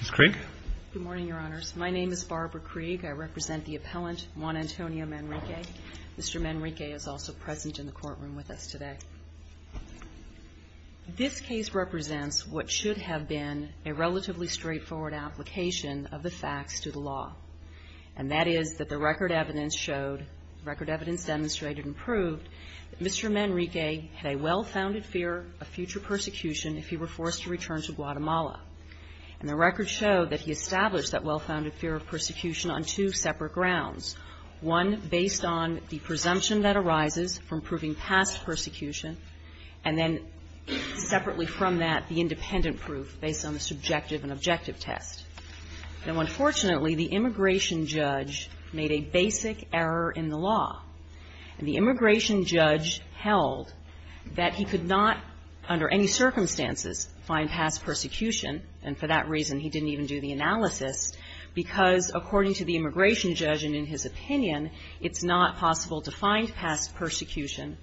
Ms. Krieg. Good morning, Your Honors. My name is Barbara Krieg. I represent the appellant, Juan Antonio Manrique. Mr. Manrique is also present in the courtroom with us today. This case represents what should have been a relatively straightforward application of the facts to the law, and that is that the record evidence showed, record evidence demonstrated and proved, that Mr. Manrique had a well-founded fear of future persecution if he were forced to return to Guatemala. And the record showed that he established that well-founded fear of persecution on two separate grounds, one based on the presumption that arises from proving past persecution, and then separately from that the independent proof based on the subjective and objective test. Now, unfortunately, the immigration judge made a basic error in the law, and the immigration judge held that he could not, under any circumstances, find past persecution, and for that reason he didn't even do the analysis, because, according to the immigration judge and in his opinion, it's not possible to find past persecution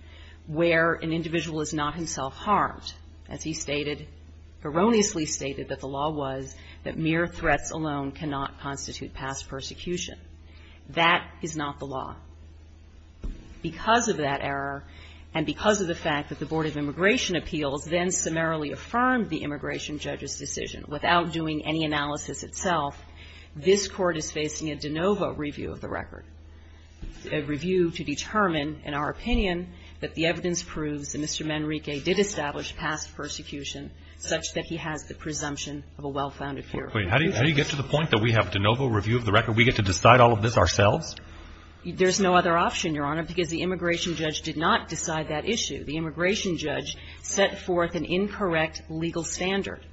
where an individual is not himself harmed, as he stated, erroneously stated, that the law was that mere threats alone cannot constitute past persecution. That is not the law. Because of that error and because of the fact that the Board of Immigration Appeals then summarily affirmed the immigration judge's decision without doing any analysis itself, this Court is facing a de novo review of the record, a review to determine, in our opinion, that the evidence proves that Mr. Manrique did establish past persecution such that he has the presumption of a well-founded fear of future persecution. How do you get to the point that we have de novo review of the record? We get to decide all of this ourselves? There's no other option, Your Honor, because the immigration judge did not decide that issue. The immigration judge set forth an incorrect legal standard,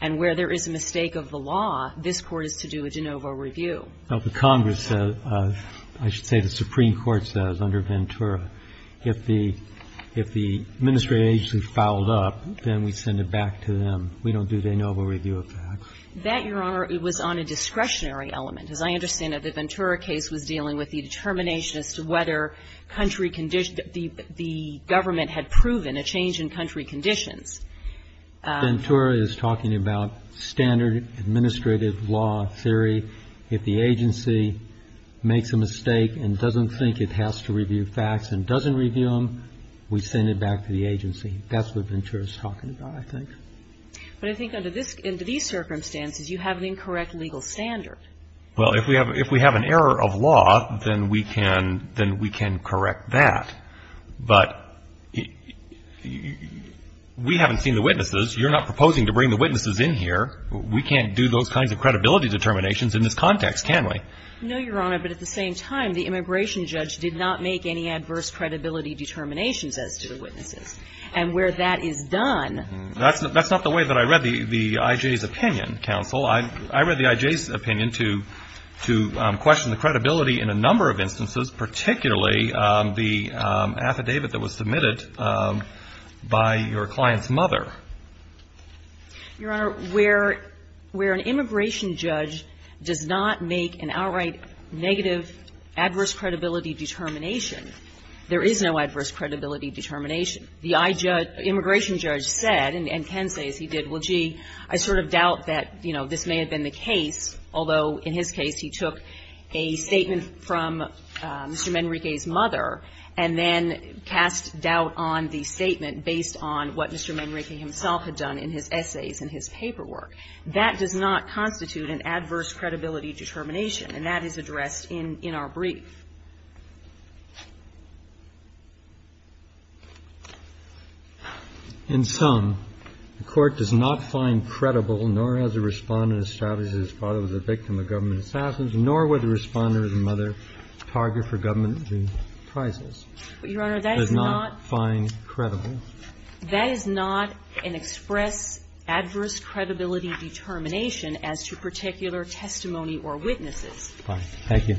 and where there is a mistake of the law, this Court is to do a de novo review. But the Congress says, I should say the Supreme Court says, under Ventura, if the administrative agency fouled up, then we send it back to them. We don't do de novo review of facts. That, Your Honor, was on a discretionary element. As I understand it, the Ventura case was dealing with the determination as to whether country condition the government had proven a change in country conditions. Ventura is talking about standard administrative law theory. If the agency makes a mistake and doesn't think it has to review facts and doesn't review them, we send it back to the agency. That's what Ventura is talking about, I think. But I think under these circumstances, you have an incorrect legal standard. Well, if we have an error of law, then we can correct that. But we haven't seen the witnesses. You're not proposing to bring the witnesses in here. We can't do those kinds of credibility determinations in this context, can we? No, Your Honor. But at the same time, the immigration judge did not make any adverse credibility determinations as to the witnesses. And where that is done ---- That's not the way that I read the I.J.'s opinion, counsel. I read the I.J.'s opinion to question the credibility in a number of instances, particularly the affidavit that was submitted by your client's mother. Your Honor, where an immigration judge does not make an outright negative adverse credibility determination, there is no adverse credibility determination. The I.J. immigration judge said, and Ken says he did, well, gee, I sort of doubt that, you know, this may have been the case, although in his case he took a statement from Mr. Manrique's mother and then cast doubt on the statement based on what Mr. Manrique himself had done in his essays and his paperwork. That does not constitute an adverse credibility determination, and that is addressed in our brief. In sum, the Court does not find credible, nor has the Respondent established that his father was a victim of government assassins, nor would the Respondent or the mother target for government to do prizes. But, Your Honor, that is not ---- Does not find credible. That is not an express adverse credibility determination as to particular testimony or witnesses. Thank you.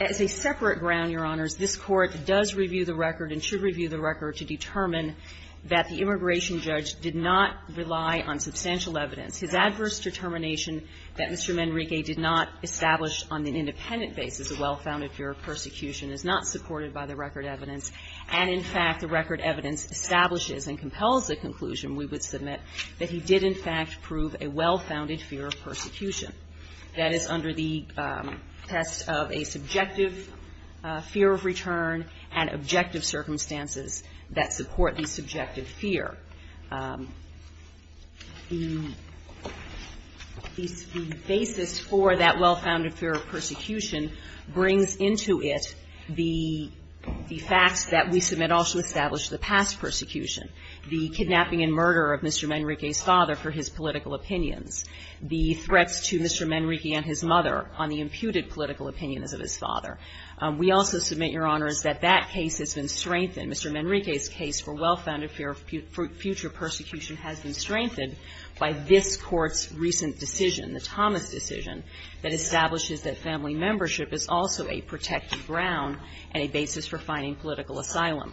As a separate ground, Your Honors, this Court does review the record and should review the record to determine that the immigration judge did not rely on substantial evidence. His adverse determination that Mr. Manrique did not establish on an independent basis a well-founded fear of persecution is not supported by the record evidence. And, in fact, the record evidence establishes and compels the conclusion, we would in fact prove a well-founded fear of persecution. That is under the test of a subjective fear of return and objective circumstances that support the subjective fear. The basis for that well-founded fear of persecution brings into it the facts that we submit also establish the past persecution, the kidnapping and murder of Mr. Manrique and his political opinions, the threats to Mr. Manrique and his mother on the imputed political opinions of his father. We also submit, Your Honors, that that case has been strengthened. Mr. Manrique's case for well-founded fear of future persecution has been strengthened by this Court's recent decision, the Thomas decision, that establishes that family membership is also a protected ground and a basis for finding political asylum.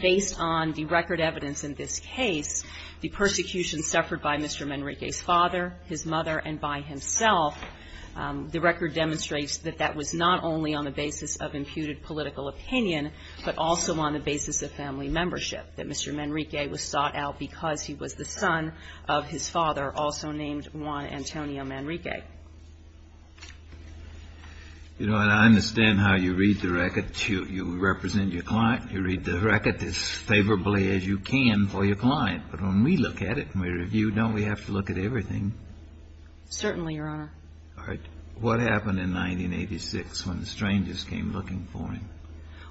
Based on the record evidence in this case, the persecution suffered by Mr. Manrique's father, his mother, and by himself, the record demonstrates that that was not only on the basis of imputed political opinion, but also on the basis of family membership, that Mr. Manrique was sought out because he was the son of his father, also named Juan Antonio Manrique. You know, and I understand how you read the record. You represent your client. You read the record as favorably as you can for your client. But when we look at it and we review, don't we have to look at everything? Certainly, Your Honor. All right. What happened in 1986 when the strangers came looking for him?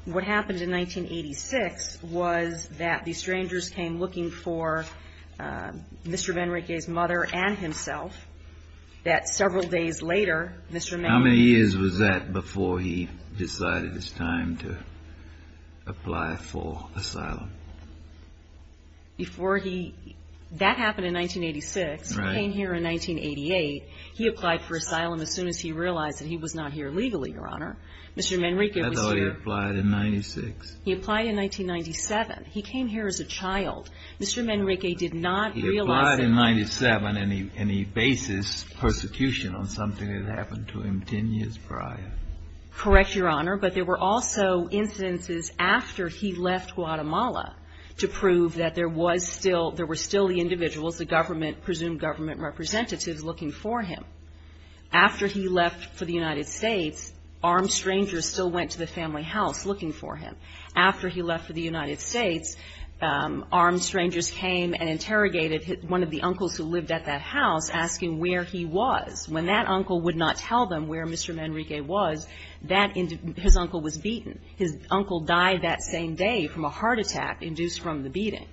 What happened in 1986 was that the strangers came looking for Mr. Manrique's mother and himself, that several days later, Mr. Manrique How many years was that before he decided it was time to apply for asylum? Before he – that happened in 1986. Right. He came here in 1988. He applied for asylum as soon as he realized that he was not here legally, Your Honor. Mr. Manrique was here I thought he applied in 96. He applied in 1997. He came here as a child. Mr. Manrique did not realize He applied in 97 and he bases persecution on something that happened to him 10 years prior. Correct, Your Honor. But there were also incidences after he left Guatemala to prove that there was still there were still the individuals, the government, presumed government representatives looking for him. After he left for the United States, armed strangers still went to the family house looking for him. After he left for the United States, armed strangers came and interrogated one of the uncles who lived at that house, asking where he was. When that uncle would not tell them where Mr. Manrique was, that – his uncle was beaten. His uncle died that same day from a heart attack induced from the beating.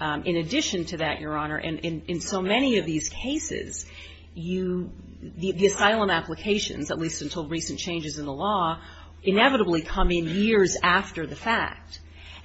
In addition to that, Your Honor, in so many of these cases, you – the asylum applications, at least until recent changes in the law, inevitably come in years after the fact.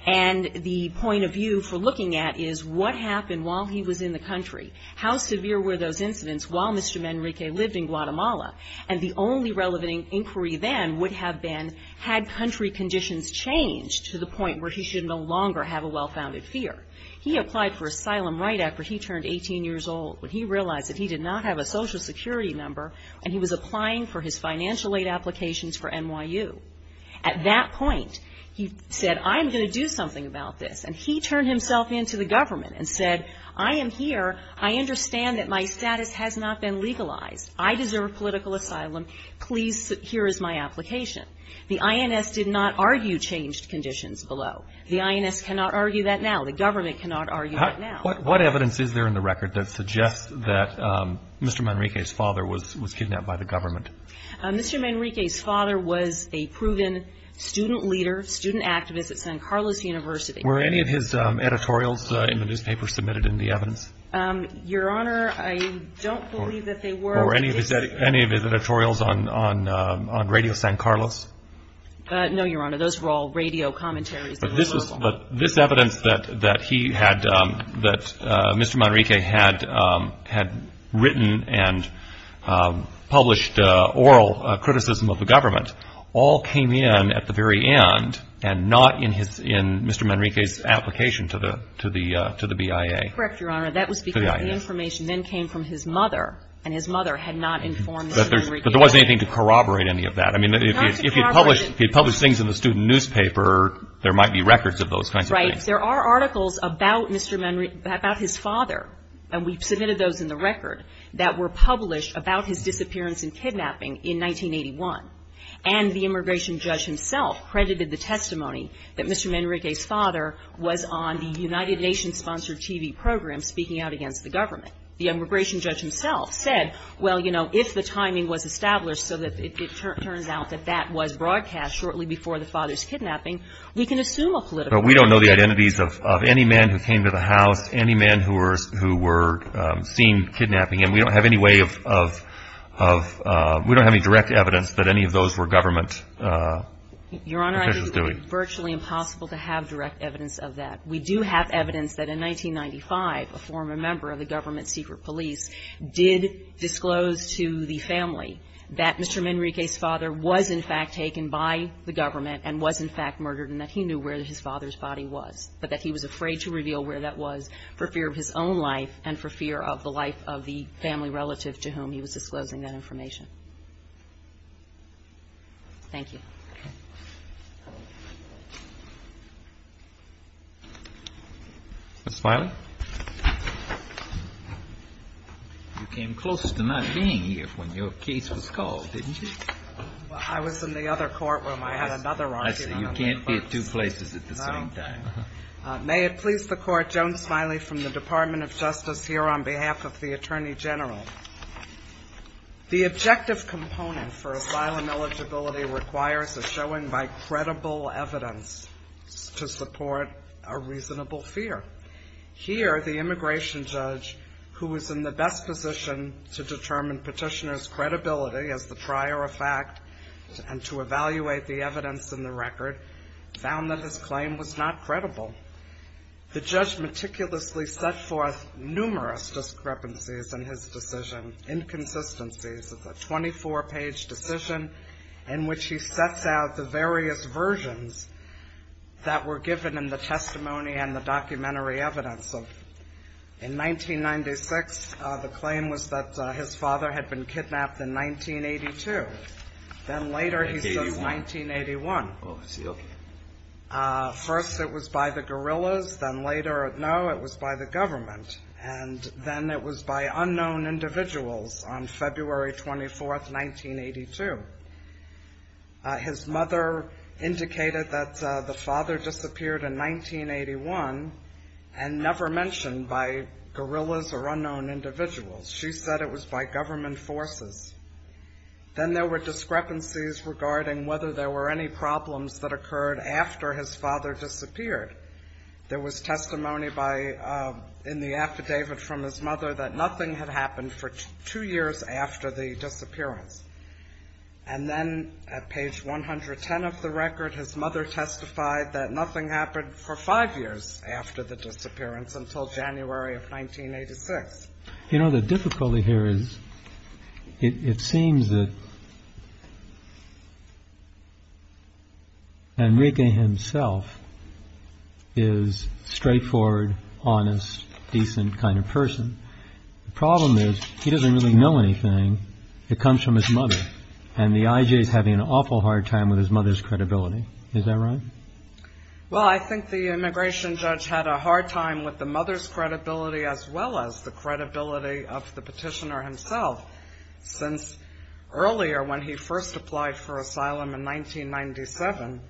And the point of view for looking at is, what happened while he was in the country? How severe were those incidents while Mr. Manrique lived in Guatemala? And the only relevant inquiry then would have been, had country conditions changed to the point where he should no longer have a well-founded fear? He applied for asylum right after he turned 18 years old, when he realized that he did not have a Social Security number, and he was applying for his financial aid applications for NYU. At that point, he said, I'm going to do something about this. And he turned himself in to the government and said, I am here. I understand that my status has not been legalized. I deserve political asylum. Please, here is my application. The INS did not argue changed conditions below. The INS cannot argue that now. The government cannot argue that now. What evidence is there in the record that suggests that Mr. Manrique's father was kidnapped by the government? Mr. Manrique's father was a proven student leader, student activist at San Carlos University. Were any of his editorials in the newspaper submitted in the evidence? Your Honor, I don't believe that they were. Were any of his editorials on Radio San Carlos? No, Your Honor, those were all radio commentaries. But this evidence that he had, that Mr. Manrique had written and published oral criticism of the government, all came in at the very end and not in Mr. Manrique's application to the BIA. Correct, Your Honor. That was because the information then came from his mother, and his mother had not informed Mr. Manrique. But there wasn't anything to corroborate any of that. I mean, if he had published things in the student newspaper, there might be records of those kinds of things. Right. There are articles about Mr. Manrique, about his father, and we've submitted those in the record, that were published about his disappearance and kidnapping in 1981. And the immigration judge himself credited the testimony that Mr. Manrique's father was on the United Nations-sponsored TV program speaking out against the government. The immigration judge himself said, well, you know, if the timing was established so that it turns out that that was broadcast shortly before the father's kidnapping, we can assume a political position. But we don't know the identities of any man who came to the house, any man who were seen kidnapping. And we don't have any way of – we don't have any direct evidence that any of those were government officials doing. Your Honor, I think it's virtually impossible to have direct evidence of that. We do have evidence that in 1995, a former member of the government secret police did disclose to the family that Mr. Manrique's father was in fact taken by the government and was in fact murdered and that he knew where his father's body was. But that he was afraid to reveal where that was for fear of his own life and for fear of the life of the family relative to whom he was disclosing that information. Thank you. Okay. Ms. Smiley? You came closest to not being here when your case was called, didn't you? I was in the other courtroom. I had another argument. I see. You can't be at two places at the same time. No. May it please the Court, Joan Smiley from the Department of Justice here on behalf of the Attorney General. The objective component for asylum eligibility requires a showing by credible evidence to support a reasonable fear. Here, the immigration judge, who was in the best position to determine petitioner's credibility as the trier of fact and to evaluate the evidence in the record, found that his claim was not credible. The judge meticulously set forth numerous discrepancies in his decision, inconsistencies. It's a 24-page decision in which he sets out the various versions that were given in the testimony and the documentary evidence. In 1996, the claim was that his father had been kidnapped in 1982. Then later he says 1981. Oh, I see. Okay. First it was by the guerrillas. Then later, no, it was by the government. And then it was by unknown individuals on February 24th, 1982. His mother indicated that the father disappeared in 1981 and never mentioned by guerrillas or unknown individuals. She said it was by government forces. Then there were discrepancies regarding whether there were any problems that occurred after his father disappeared. There was testimony in the affidavit from his mother that nothing had happened for two years after the disappearance. And then at page 110 of the record, his mother testified that nothing happened for five years after the disappearance until January of 1986. You know, the difficulty here is it seems that Enrique himself is straightforward, honest, decent kind of person. The problem is he doesn't really know anything. It comes from his mother. And the IJ is having an awful hard time with his mother's credibility. Is that right? Well, I think the immigration judge had a hard time with the mother's credibility as well as the credibility of the petitioner himself. Since earlier when he first applied for asylum in 1997,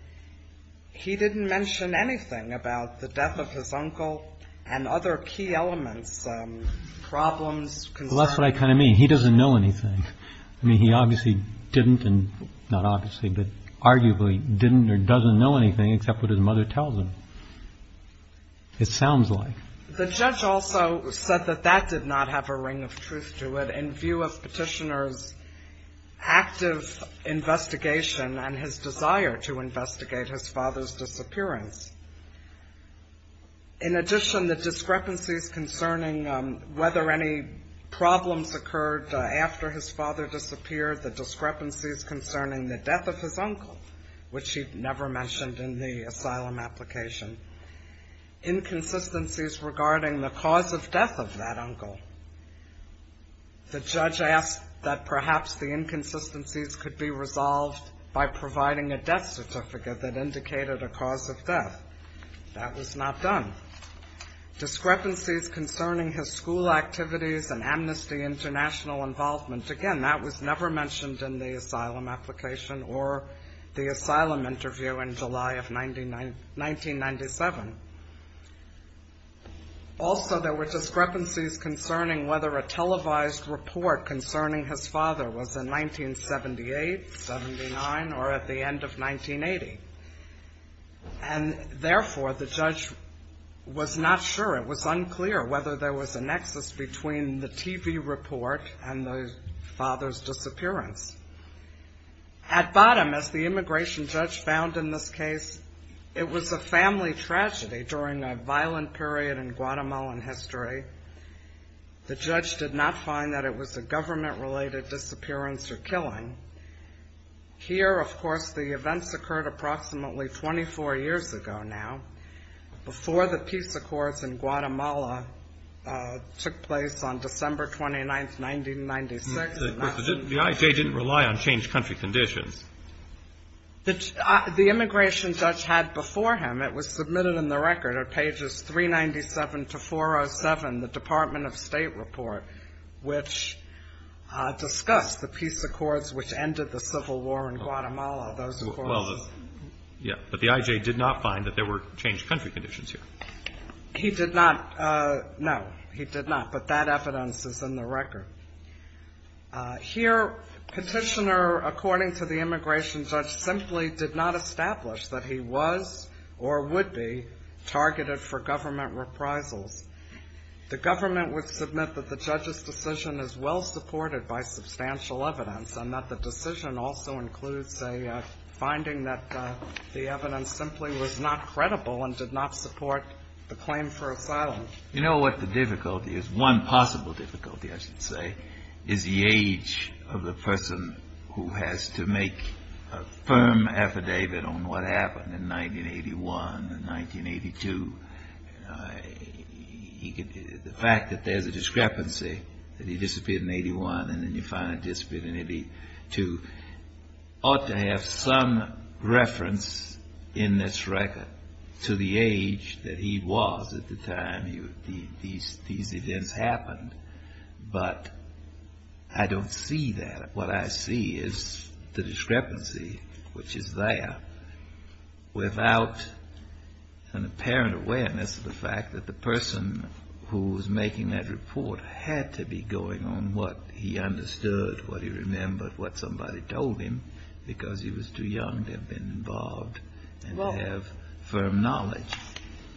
he didn't mention anything about the death of his uncle and other key elements, problems, concerns. Well, that's what I kind of mean. He doesn't know anything. I mean, he obviously didn't and not obviously, but arguably didn't or doesn't know anything except what his mother tells him. It sounds like. The judge also said that that did not have a ring of truth to it in view of petitioner's active investigation and his desire to investigate his father's disappearance. In addition, the discrepancies concerning whether any problems occurred after his father disappeared, the discrepancies concerning the death of his uncle, which he never mentioned in the asylum application, inconsistencies regarding the cause of death of that uncle. The judge asked that perhaps the inconsistencies could be resolved by providing a death certificate that indicated a cause of death. That was not done. Discrepancies concerning his school activities and amnesty international involvement. Again, that was never mentioned in the asylum application or the asylum interview in July of 1997. Also, there were discrepancies concerning whether a televised report concerning his father was in 1978, 79 or at the end of 1980. And therefore, the judge was not sure. It was unclear whether there was a nexus between the TV report and the father's disappearance. At bottom, as the immigration judge found in this case, it was a family tragedy during a violent period in Guatemalan history. The judge did not find that it was a government-related disappearance or killing. Here, of course, the events occurred approximately 24 years ago now, before the peace accords in Guatemala took place on December 29, 1996. The IJ didn't rely on changed country conditions. The immigration judge had before him, it was submitted in the record at pages 397 to 407, the Department of State report, which discussed the peace accords which ended the civil war in Guatemala, those accords. Well, yeah, but the IJ did not find that there were changed country conditions here. He did not. No, he did not, but that evidence is in the record. Here, Petitioner, according to the immigration judge, simply did not establish that he was or would be targeted for government reprisals. The government would submit that the judge's decision is well-supported by substantial evidence and that the decision also includes a finding that the evidence simply was not credible and did not support the claim for asylum. You know what the difficulty is? One possible difficulty, I should say, is the age of the person who has to make a firm affidavit on what happened in 1981 and 1982. The fact that there's a discrepancy, that he disappeared in 81 and then you find he disappeared in 82, ought to have some reference in this record to the age that he was at the time these events happened. But I don't see that. What I see is the discrepancy, which is there, without an apparent awareness of the fact that the person who was making that report had to be going on what he understood, what he remembered, what somebody told him, because he was too young to have been involved and to have firm knowledge.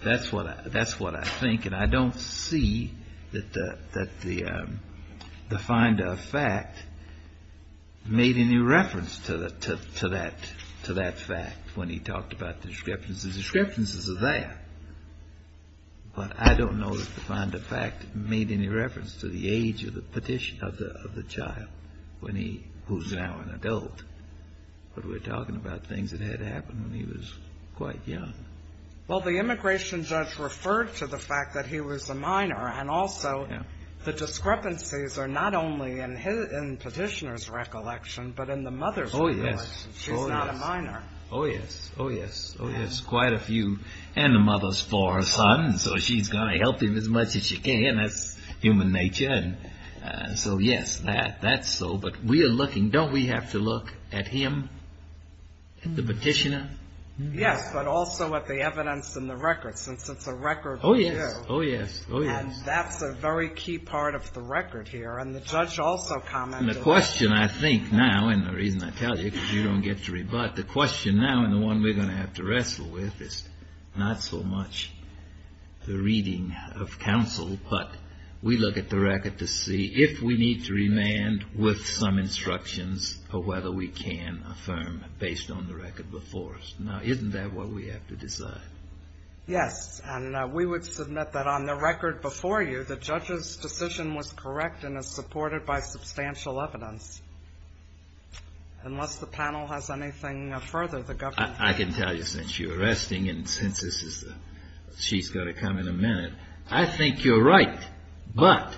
That's what I think. And I don't see that the finder of fact made any reference to that fact when he talked about the discrepancies. The discrepancies are there. But I don't know that the finder of fact made any reference to the age of the petition of the child when he, who's now an adult. But we're talking about things that had happened when he was quite young. Well, the immigration judge referred to the fact that he was a minor. And also the discrepancies are not only in petitioner's recollection, but in the mother's recollection. She's not a minor. Oh, yes. Oh, yes. Oh, yes. Quite a few. And the mother's for a son, so she's going to help him as much as she can. That's human nature. So, yes, that's so. But we are looking. Don't we have to look at him, the petitioner? Yes, but also at the evidence in the record, since it's a record. Oh, yes. Oh, yes. Oh, yes. And that's a very key part of the record here. And the judge also commented. And the question I think now, and the reason I tell you, because you don't get to rebut, the question now, and the one we're going to have to wrestle with, is not so much the reading of counsel, but we look at the record to see if we need to remand with some instructions or whether we can affirm based on the record before us. Now, isn't that what we have to decide? Yes. And we would submit that on the record before you, the judge's decision was correct and is supported by substantial evidence. Unless the panel has anything further, the government. I can tell you, since you're arresting and since this is the, she's got to come in a minute, I think you're right. But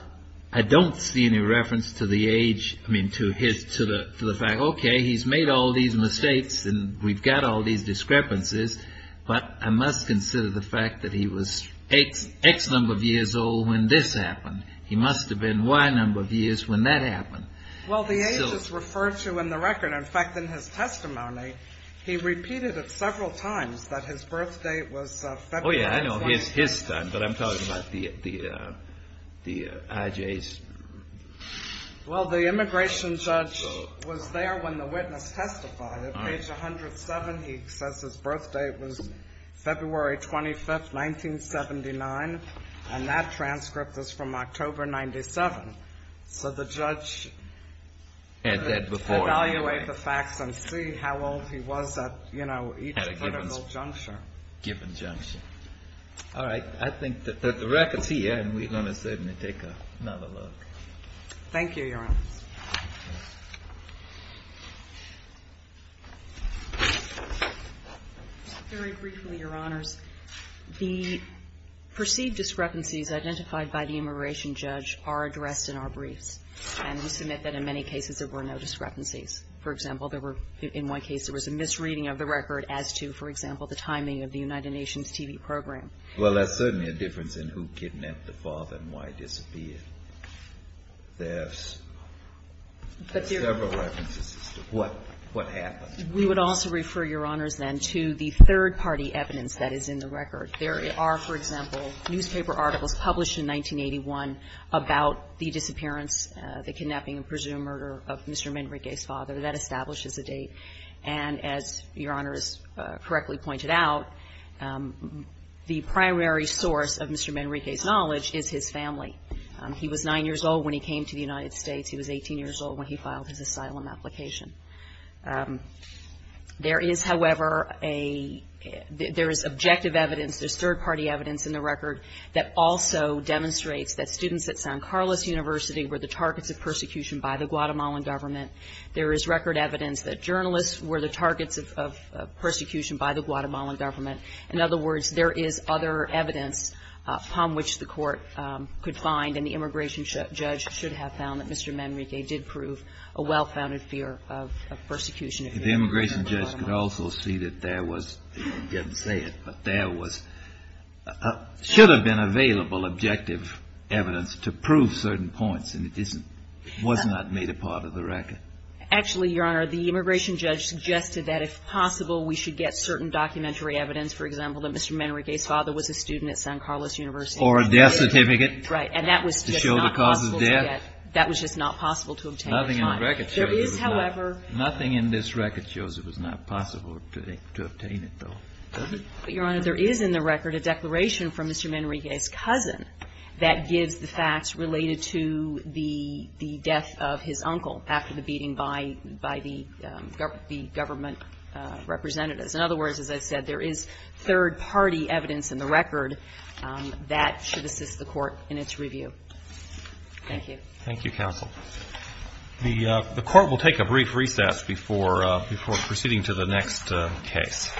I don't see any reference to the age, I mean to his, to the fact, okay, he's made all these mistakes and we've got all these discrepancies, but I must consider the fact that he was X number of years old when this happened. He must have been Y number of years when that happened. Well, the age is referred to in the record. In fact, in his testimony, he repeated it several times that his birth date was February. Oh, yeah, I know. It's his time, but I'm talking about the IJs. Well, the immigration judge was there when the witness testified at page 107. He says his birth date was February 25th, 1979, and that transcript is from October 97. So the judge had to evaluate the facts and see how old he was at each critical juncture. All right. I think that the record's here, and we're going to certainly take another look. Thank you, Your Honors. Very briefly, Your Honors. The perceived discrepancies identified by the immigration judge are addressed in our briefs, and we submit that in many cases there were no discrepancies. For example, there were, in one case there was a misreading of the record as to, for example, the timing of the United Nations TV program. Well, there's certainly a difference in who kidnapped the father and why he disappeared. There's several references as to what happened. We would also refer, Your Honors, then, to the third-party evidence that is in the record. There are, for example, newspaper articles published in 1981 about the disappearance, the kidnapping, and presumed murder of Mr. Menrique's father. That establishes a date. And as Your Honors correctly pointed out, the primary source of Mr. Menrique's knowledge is his family. He was 9 years old when he came to the United States. He was 18 years old when he filed his asylum application. There is, however, a — there is objective evidence, there's third-party evidence in the record that also demonstrates that students at San Carlos University were the targets of persecution by the Guatemalan government. There is record evidence that journalists were the targets of persecution by the Guatemalan government. In other words, there is other evidence upon which the Court could find and the immigration judge should have found that Mr. Menrique did prove a well-founded fear of persecution of the Guatemalan government. The immigration judge could also see that there was — he didn't say it, but there was — should have been available objective evidence to prove certain points, and it isn't — was not made a part of the record. Actually, Your Honor, the immigration judge suggested that if possible, we should get certain documentary evidence, for example, that Mr. Menrique's father was a student at San Carlos University. Or a death certificate. Right. And that was just not possible to get. To show the cause of death. That was just not possible to obtain at the time. Nothing in the record shows it was not — There is, however — Nothing in this record shows it was not possible to obtain it, though. Your Honor, there is in the record a declaration from Mr. Menrique's cousin that gives the facts related to the death of his uncle after the beating by the government representatives. In other words, as I said, there is third-party evidence in the record that should assist the Court in its review. Thank you. Thank you, counsel. The Court will take a brief recess before proceeding to the next case.